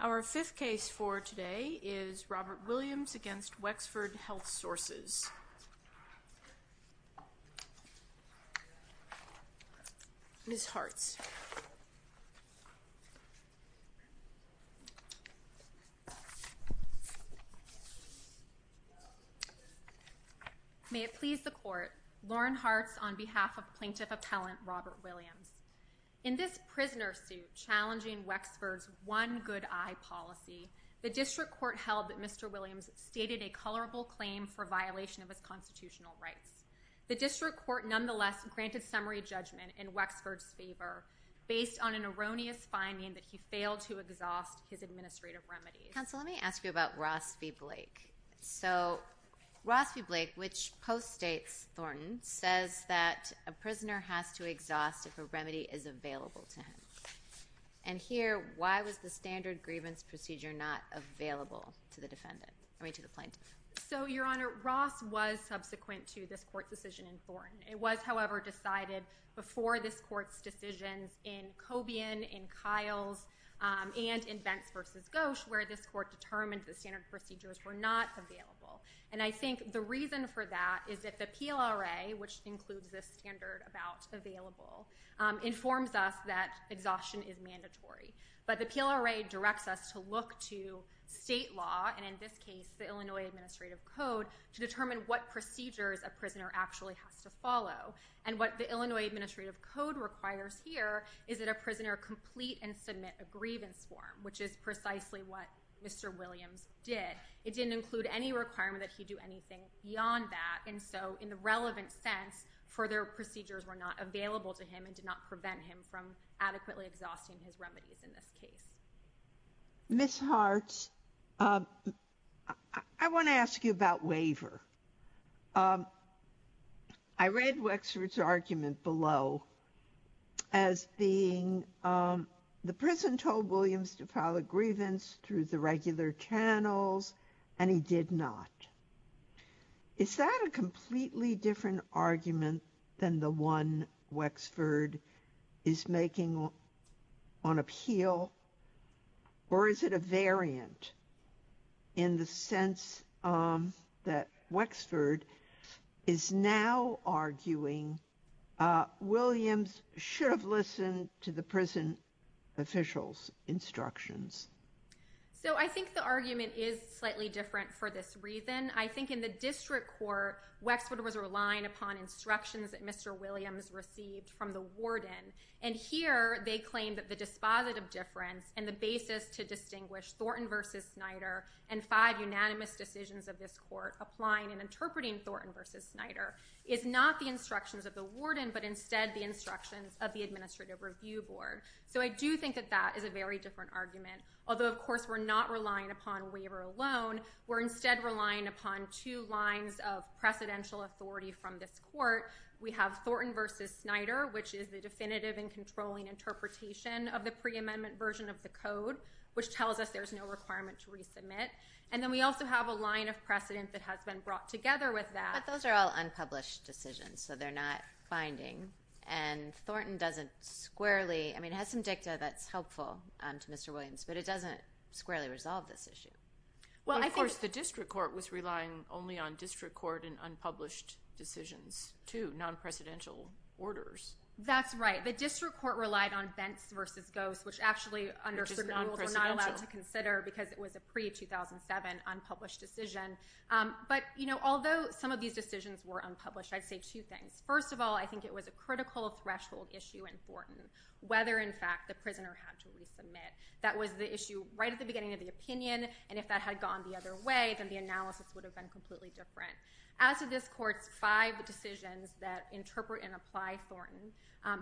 Our fifth case for today is Robert Williams v. Wexford Health Sources, Inc. This is a case for the District Court on behalf of plaintiff appellant Robert Williams. In this prisoner suit challenging Wexford's One Good Eye policy, the District Court held that Mr. Williams stated a colorable claim for violation of his constitutional rights. The District Court, nonetheless, granted summary judgment in Wexford's favor based on an erroneous finding that he failed to exhaust his administrative remedies. Counsel, let me ask you about Ross v. Blake. So Ross v. Blake, which post-states Thornton, says that a prisoner has to exhaust if a remedy is available to him. And here, why was the standard grievance procedure not available to the defendant, I mean to the plaintiff? So, Your Honor, Ross was subsequent to this court's decision in Thornton. It was, however, decided before this court's decisions in Cobian, in Kyle's, and in Bentz v. Gosch, where this court determined the standard procedures were not available. And I think the reason for that is that the PLRA, which includes this standard about available, informs us that exhaustion is mandatory. But the PLRA directs us to look to state law, and in this case, the Illinois Administrative Code, to determine what procedures a prisoner actually has to follow. And what the Illinois Administrative Code requires here is that a prisoner complete and submit a grievance form, which is precisely what Mr. Williams did. It didn't include any requirement that he do anything beyond that. And so, in the relevant sense, further procedures were not available to him and did not prevent him from adequately exhausting his remedies in this case. Ms. Hartz, I want to ask you about waiver. I read Wexford's argument below as being, the prison told Williams to file a grievance through the regular channels, and he did not. Is that a completely different argument than the one Wexford is making on appeal? Or is it a variant in the sense that Wexford is now arguing Williams should have listened to the prison official's instructions? So, I think the argument is slightly different for this reason. I think in the district court, Wexford was relying upon instructions that Mr. Williams received from the warden. And here, they claim that the dispositive difference and the basis to distinguish Thornton v. Snyder and five unanimous decisions of this court applying and interpreting Thornton v. Snyder is not the instructions of the warden, but instead the instructions of the Administrative Review Board. So, I do think that that is a very different argument, although, of course, we're not relying upon waiver alone. We're instead relying upon two lines of precedential authority from this court. We have Thornton v. Snyder, which is the definitive and controlling interpretation of the pre-amendment version of the code, which tells us there's no requirement to resubmit. And then we also have a line of precedent that has been brought together with that. But those are all unpublished decisions, so they're not binding. And Thornton doesn't squarely, I mean, it has some dicta that's helpful to Mr. Williams, but it doesn't squarely resolve this issue. Well, of course, the district court was relying only on district court and unpublished decisions, too, non-presidential orders. That's right. The district court relied on Bents v. Ghost, which actually, under certain rules, we're not allowed to consider because it was a pre-2007 unpublished decision. But although some of these decisions were unpublished, I'd say two things. First of all, I think it was a critical threshold issue in Thornton, whether, in fact, the prisoner had to resubmit. That was the issue right at the beginning of the opinion, and if that had gone the other way, then the analysis would have been completely different. As to this court's five decisions that interpret and apply Thornton,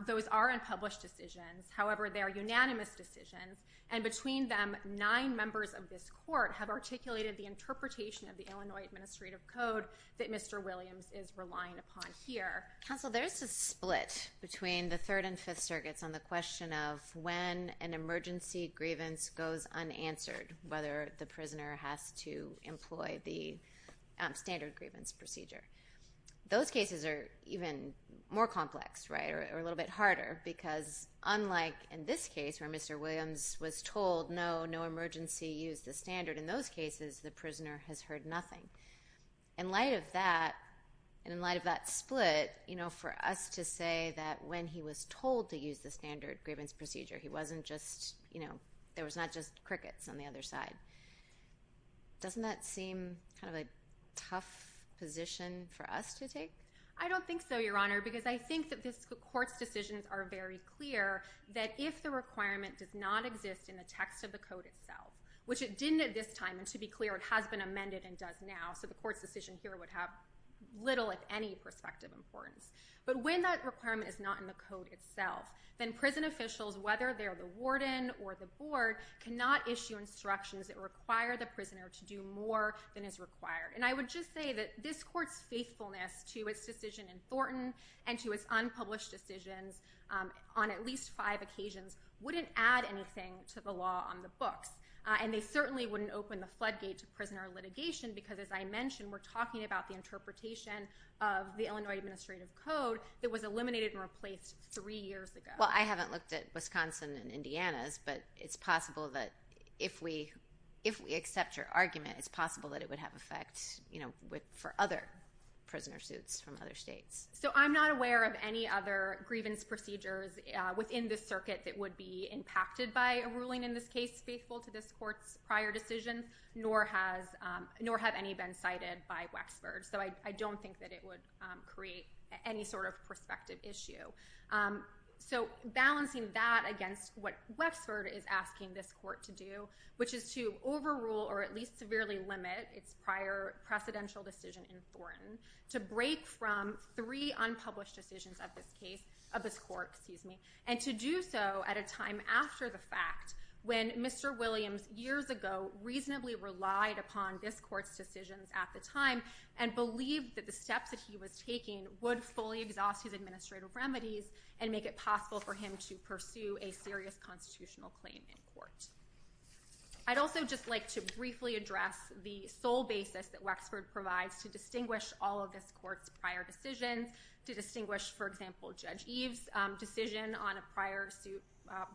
those are unpublished decisions. However, they are unanimous decisions, and between them, nine members of this court have articulated the interpretation of the Illinois Administrative Code that Mr. Williams is relying upon here. Counsel, there is a split between the Third and Fifth Circuits on the question of when an emergency grievance goes unanswered, whether the prisoner has to employ the standard grievance procedure. Those cases are even more complex, right, or a little bit harder, because unlike in this case, where Mr. Williams was told, no, no emergency, use the standard, in those cases, the prisoner has heard nothing. In light of that, and in light of that split, you know, for us to say that when he was told to use the standard grievance procedure, he wasn't just, you know, there was not just crickets on the other side, doesn't that seem kind of a tough position for us to take? I don't think so, Your Honor, because I think that this court's decisions are very clear that if the requirement does not exist in the text of the code itself, which it didn't at this time, and to be clear, it has been amended and does now, so the court's decision here would have little, if any, perspective importance, but when that requirement is not in the code itself, then prison officials, whether they're the warden or the board, cannot issue instructions that require the prisoner to do more than is required. And I would just say that this court's faithfulness to its decision in Thornton and to its unpublished decisions on at least five occasions wouldn't add anything to the law on the books, and they certainly wouldn't open the floodgate to prisoner litigation because, as I mentioned, we're talking about the interpretation of the Illinois Administrative Code that was eliminated and replaced three years ago. Well, I haven't looked at Wisconsin and Indiana's, but it's possible that if we accept your argument, it's possible that it would have effect, you know, for other prisoner suits from other states. So I'm not aware of any other grievance procedures within this circuit that would be impacted by a ruling in this case faithful to this court's prior decisions, nor have any been cited by Wexford, so I don't think that it would create any sort of perspective issue. So balancing that against what Wexford is asking this court to do, which is to overrule or at least severely limit its prior precedential decision in Thornton, to break from three unpublished decisions of this case, of this court, excuse me, and to do so at a time after the fact, when Mr. Williams, years ago, reasonably relied upon this court's decisions at the time and believed that the steps that he was taking would fully exhaust his administrative remedies and make it possible for him to pursue a serious constitutional claim in court. I'd also just like to briefly address the sole basis that Wexford provides to distinguish all of this court's prior decisions, to distinguish, for example, Judge Eve's decision on a prior suit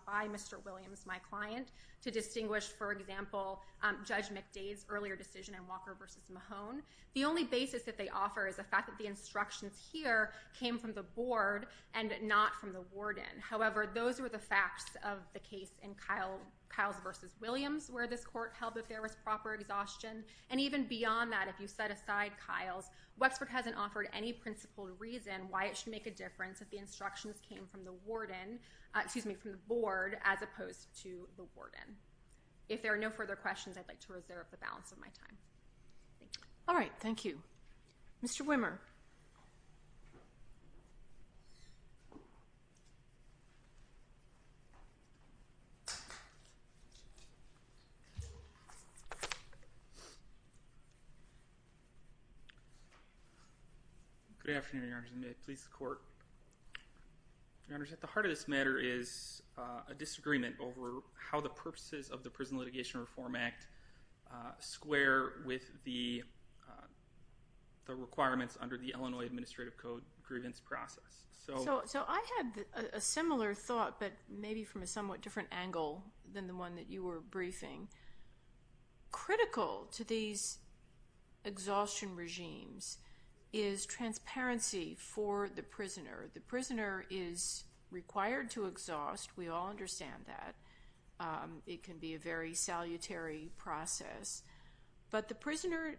by Mr. Williams, my client, to distinguish, for example, Judge McDade's earlier decision on Walker v. Mahone. The only basis that they offer is the fact that the instructions here came from the board and not from the warden. However, those were the facts of the case in Kyles v. Williams, where this court held that there was proper exhaustion, and even beyond that, if you set aside Kyles, Wexford hasn't offered any principled reason why it should make a difference if the instructions came from the warden, excuse me, from the board, as opposed to the warden. If there are no further questions, I'd like to reserve the balance of my time. Thank you. All right. Thank you. Mr. Wimmer. Your Honor, at the heart of this matter is a disagreement over how the purposes of the Prison Litigation Reform Act square with the requirements under the Illinois Administrative Code grievance process. So I had a similar thought, but maybe from a somewhat different angle than the one that you were briefing. Critical to these exhaustion regimes is transparency for the prisoner. The prisoner is required to exhaust. We all understand that. It can be a very salutary process. But the prisoner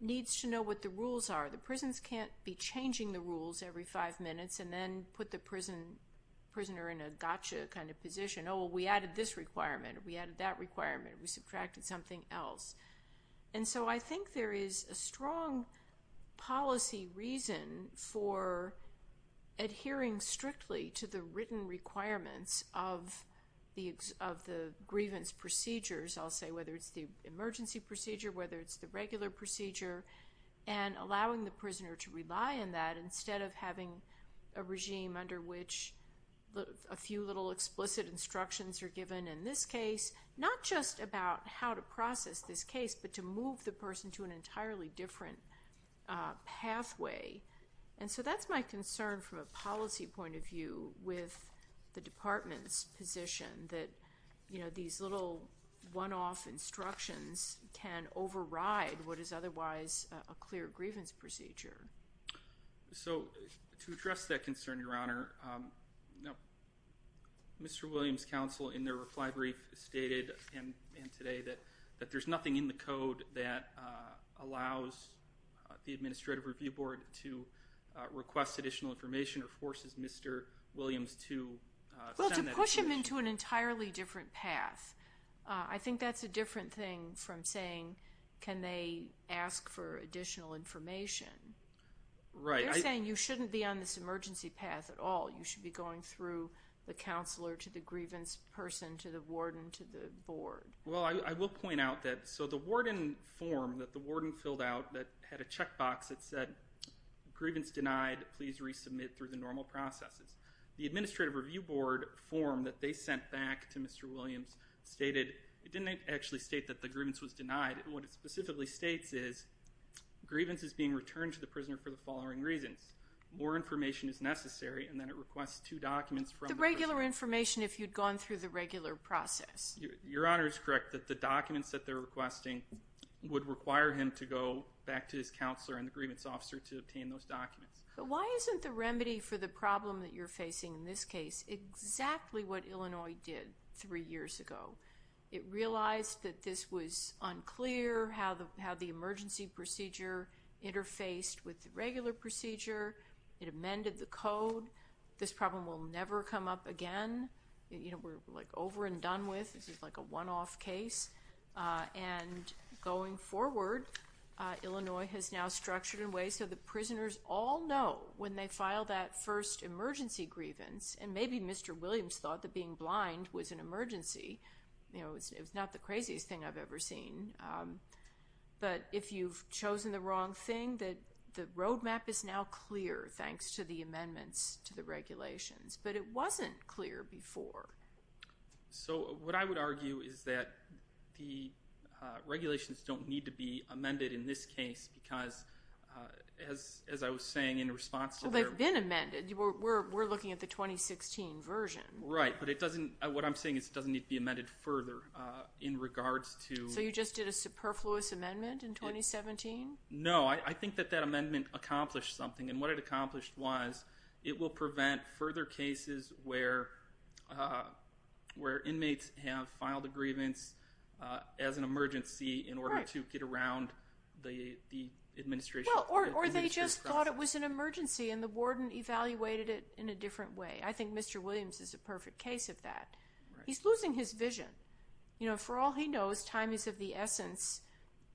needs to know what the rules are. The prisons can't be changing the rules every five minutes and then put the prisoner in a gotcha kind of position. Oh, well, we added this requirement. We added that requirement. We subtracted something else. And so I think there is a strong policy reason for adhering strictly to the written requirements of the grievance procedures, I'll say, whether it's the emergency procedure, whether it's the regular procedure, and allowing the prisoner to rely on that instead of having a regime under which a few little explicit instructions are given in this case, not just about how to process this case, but to move the person to an entirely different pathway. And so that's my concern from a policy point of view with the Department's position that these little one-off instructions can override what is otherwise a clear grievance procedure. So, to address that concern, Your Honor, Mr. Williams' counsel in their reply brief stated and today that there's nothing in the code that allows the Administrative Review Board to request additional information or forces Mr. Williams to send that information. Well, to push him into an entirely different path. I think that's a different thing from saying, can they ask for additional information. Right. They're saying you shouldn't be on this emergency path at all. You should be going through the counselor to the grievance person to the warden to the board. Well, I will point out that, so the warden form that the warden filled out that had a checkbox that said, grievance denied, please resubmit through the normal processes. The Administrative Review Board form that they sent back to Mr. Williams stated, it didn't actually state that the grievance was denied, what it specifically states is, grievance is being returned to the prisoner for the following reasons. More information is necessary, and then it requests two documents from the person. The regular information if you'd gone through the regular process. Your Honor is correct that the documents that they're requesting would require him to go back to his counselor and the grievance officer to obtain those documents. But why isn't the remedy for the problem that you're facing in this case exactly what Illinois did three years ago? It realized that this was unclear, how the emergency procedure interfaced with the regular procedure, it amended the code, this problem will never come up again, we're like over and done with, this is like a one-off case, and going forward, Illinois has now structured in a way so the prisoners all know when they file that first emergency grievance, and maybe Mr. Williams thought that being blind was an emergency, you know, it was not the craziest thing I've ever seen, but if you've chosen the wrong thing, the road map is now clear thanks to the amendments to the regulations, but it wasn't clear before. So what I would argue is that the regulations don't need to be amended in this case because as I was saying in response to their... Well, they've been amended, we're looking at the 2016 version. Right, but it doesn't, what I'm saying is it doesn't need to be amended further in regards to... So you just did a superfluous amendment in 2017? No, I think that that amendment accomplished something, and what it accomplished was it will prevent further cases where inmates have filed a grievance as an emergency in order to get around the administration process. Well, or they just thought it was an emergency and the warden evaluated it in a different way. I think Mr. Williams is a perfect case of that. He's losing his vision. You know, for all he knows, time is of the essence,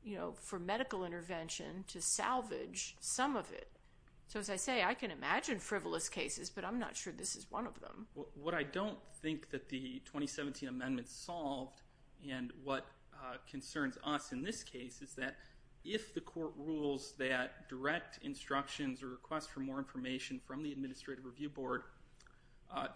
you know, for medical intervention to salvage some of it. So as I say, I can imagine frivolous cases, but I'm not sure this is one of them. What I don't think that the 2017 amendment solved, and what concerns us in this case, is that if the court rules that direct instructions or requests for more information from the Administrative Review Board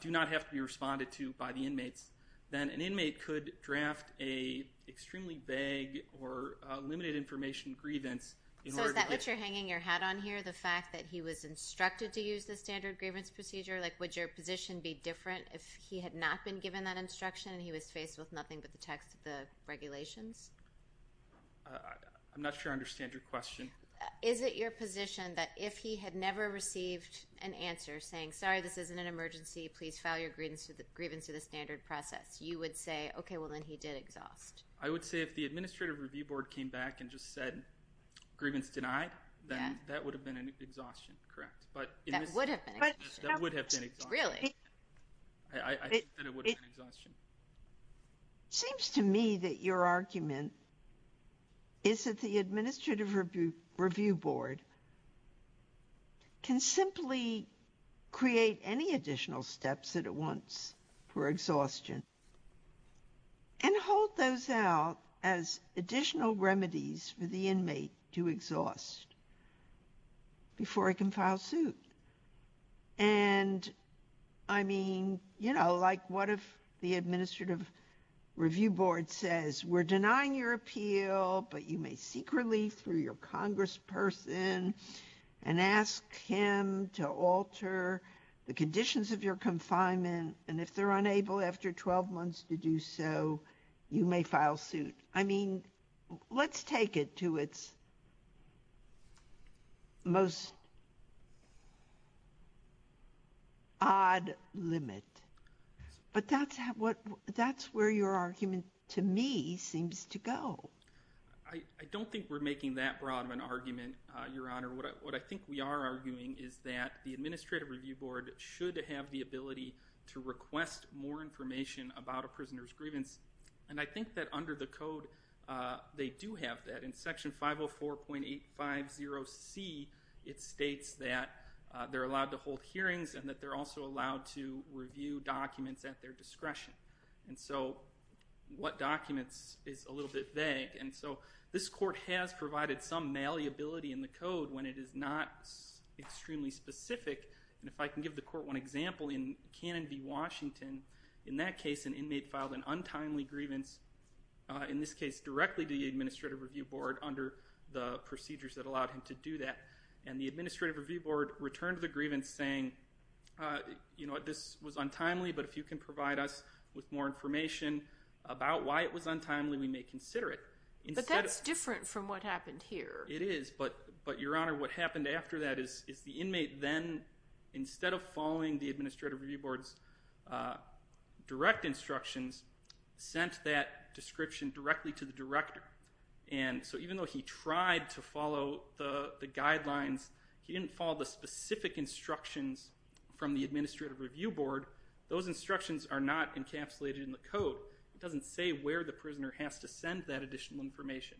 do not have to be responded to by the inmates, then an inmate could draft a extremely vague or limited information grievance in order to get... So is that what you're hanging your hat on here, the fact that he was instructed to use the standard grievance procedure? Like, would your position be different if he had not been given that instruction and he was faced with nothing but the text of the regulations? I'm not sure I understand your question. Is it your position that if he had never received an answer saying, sorry, this isn't an emergency, please file your grievance through the standard process, you would say, okay, well, then he did exhaust? I would say if the Administrative Review Board came back and just said, grievance denied, then that would have been an exhaustion, correct. That would have been an exhaustion. That would have been an exhaustion. Really? I think that it would have been an exhaustion. It seems to me that your argument is that the Administrative Review Board can simply create any additional steps that it wants for exhaustion and hold those out as additional remedies for the inmate to exhaust before he can file suit. And, I mean, you know, like what if the Administrative Review Board says, we're denying your appeal, but you may seek relief through your congressperson and ask him to alter the conditions of your confinement, and if they're unable after 12 months to do so, you may file suit. I mean, let's take it to its most odd limit. But that's where your argument, to me, seems to go. I don't think we're making that broad of an argument, Your Honor. What I think we are arguing is that the Administrative Review Board should have the ability to request more information about a prisoner's grievance, and I think that under the code they do have that. In Section 504.850C, it states that they're allowed to hold hearings and that they're also allowed to review documents at their discretion. And so what documents is a little bit vague, and so this court has provided some malleability in the code when it is not extremely specific. And if I can give the court one example, in Cannon v. Washington, in that case an inmate filed an untimely grievance, in this case directly to the Administrative Review Board, under the procedures that allowed him to do that. And the Administrative Review Board returned the grievance saying, you know what, this was untimely, but if you can provide us with more information about why it was untimely, we may consider it. But that's different from what happened here. It is, but, Your Honor, what happened after that is the inmate then, instead of following the Administrative Review Board's direct instructions, sent that description directly to the director. And so even though he tried to follow the guidelines, he didn't follow the specific instructions from the Administrative Review Board. Those instructions are not encapsulated in the code. It doesn't say where the prisoner has to send that additional information.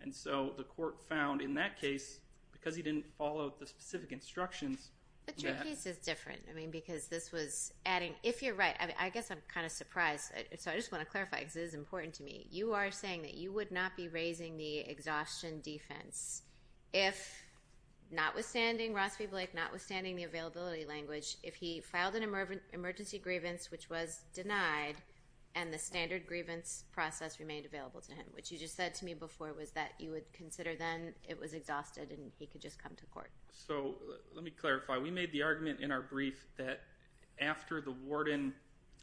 And so the court found in that case, because he didn't follow the specific instructions. But your case is different. I mean, because this was adding, if you're right, I guess I'm kind of surprised. So I just want to clarify, because this is important to me. You are saying that you would not be raising the exhaustion defense if, notwithstanding Ross v. Blake, notwithstanding the availability language, if he filed an emergency grievance which was denied and the standard grievance process remained available to him, which you just said to me before was that you would consider then it was exhausted and he could just come to court. So let me clarify. We made the argument in our brief that after the warden,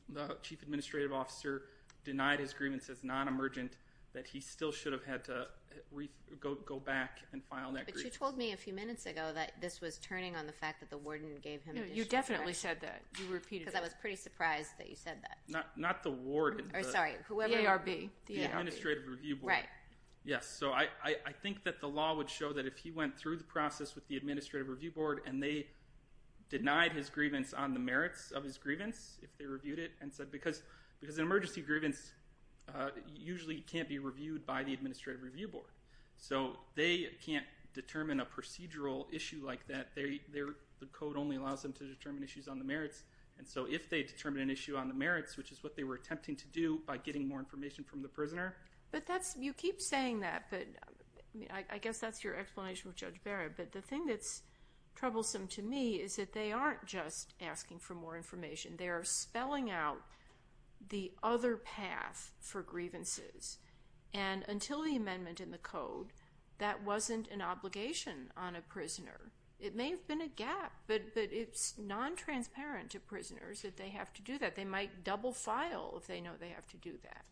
the chief administrative officer, denied his grievance as non-emergent, that he still should have had to go back and file that grievance. But you told me a few minutes ago that this was turning on the fact that the warden gave him additional. No, you definitely said that. You repeated that. Because I was pretty surprised that you said that. Not the warden. Sorry, whoever. The ARB. The Administrative Review Board. Right. Yes. So I think that the law would show that if he went through the process with the Administrative Review Board and they denied his grievance on the merits of his grievance, if they reviewed it, and said because an emergency grievance usually can't be reviewed by the Administrative Review Board. So they can't determine a procedural issue like that. The code only allows them to determine issues on the merits. And so if they determine an issue on the merits, which is what they were attempting to do by getting more information from the prisoner. You keep saying that, but I guess that's your explanation with Judge Barrett. But the thing that's troublesome to me is that they aren't just asking for more information. They are spelling out the other path for grievances. And until the amendment in the code, that wasn't an obligation on a prisoner. It may have been a gap, but it's non-transparent to prisoners that they have to do that. They might double file if they know they have to do that.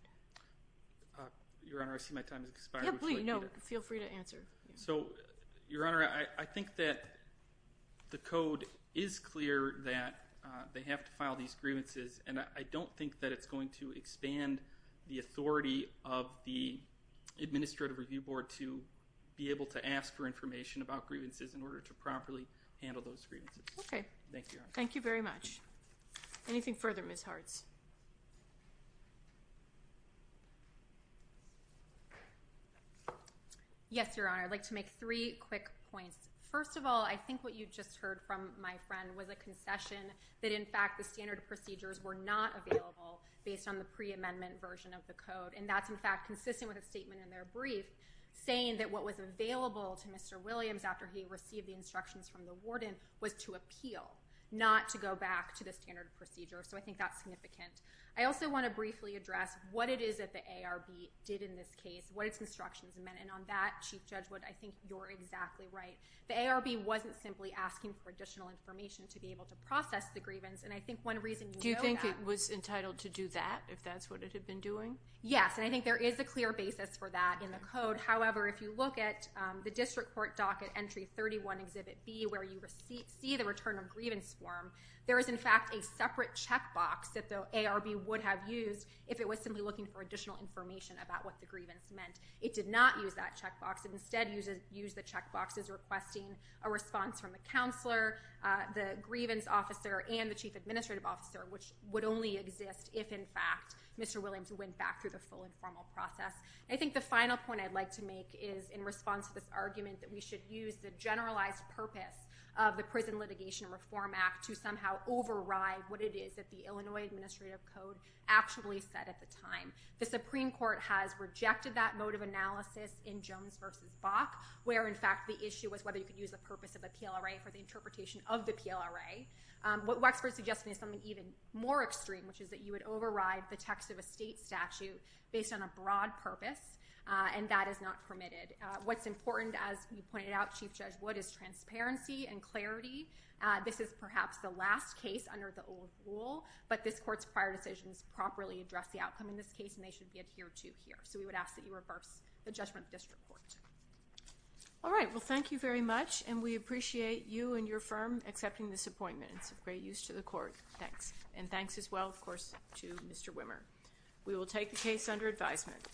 Your Honor, I see my time has expired. Yeah, please. No, feel free to answer. So, Your Honor, I think that the code is clear that they have to file these grievances, and I don't think that it's going to expand the authority of the Administrative Review Board to be able to ask for information about grievances in order to properly handle those grievances. Okay. Thank you, Your Honor. Thank you very much. Anything further, Ms. Hartz? Yes, Your Honor. I'd like to make three quick points. First of all, I think what you just heard from my friend was a concession that, in fact, the standard procedures were not available based on the pre-amendment version of the code. And that's, in fact, consistent with a statement in their brief saying that what was available to Mr. Williams after he received the instructions from the warden was to appeal, not to go back to the standard procedure. So I think that's significant. I also want to briefly address what it is that the ARB did in this case, what its instructions meant, and on that, Chief Judge Wood, I think you're exactly right. The ARB wasn't simply asking for additional information to be able to process the grievance, and I think one reason you know that— Do you think it was entitled to do that, if that's what it had been doing? Yes, and I think there is a clear basis for that in the code. However, if you look at the District Court Docket Entry 31, Exhibit B, where you see the return of grievance form, there is, in fact, a separate checkbox that the ARB would have used if it was simply looking for additional information about what the grievance meant. It did not use that checkbox. It instead used the checkboxes requesting a response from the counselor, the grievance officer, and the chief administrative officer, which would only exist if, in fact, Mr. Williams went back through the full informal process. I think the final point I'd like to make is in response to this argument that we should use the generalized purpose of the Prison Litigation Reform Act to somehow override what it is that the Illinois Administrative Code actually said at the time. The Supreme Court has rejected that mode of analysis in Jones v. Bok, where, in fact, the issue was whether you could use the purpose of the PLRA for the interpretation of the PLRA. What Wexford is suggesting is something even more extreme, which is that you would override the text of a state statute based on a broad purpose, and that is not permitted. What's important, as you pointed out, Chief Judge Wood, is transparency and clarity. This is perhaps the last case under the old rule, but this Court's prior decisions properly address the outcome in this case, and they should be adhered to here. So we would ask that you reverse the judgment of the district court. All right. Well, thank you very much, and we appreciate you and your firm accepting this appointment. It's of great use to the Court. Thanks. And thanks as well, of course, to Mr. Wimmer. We will take the case under advisement.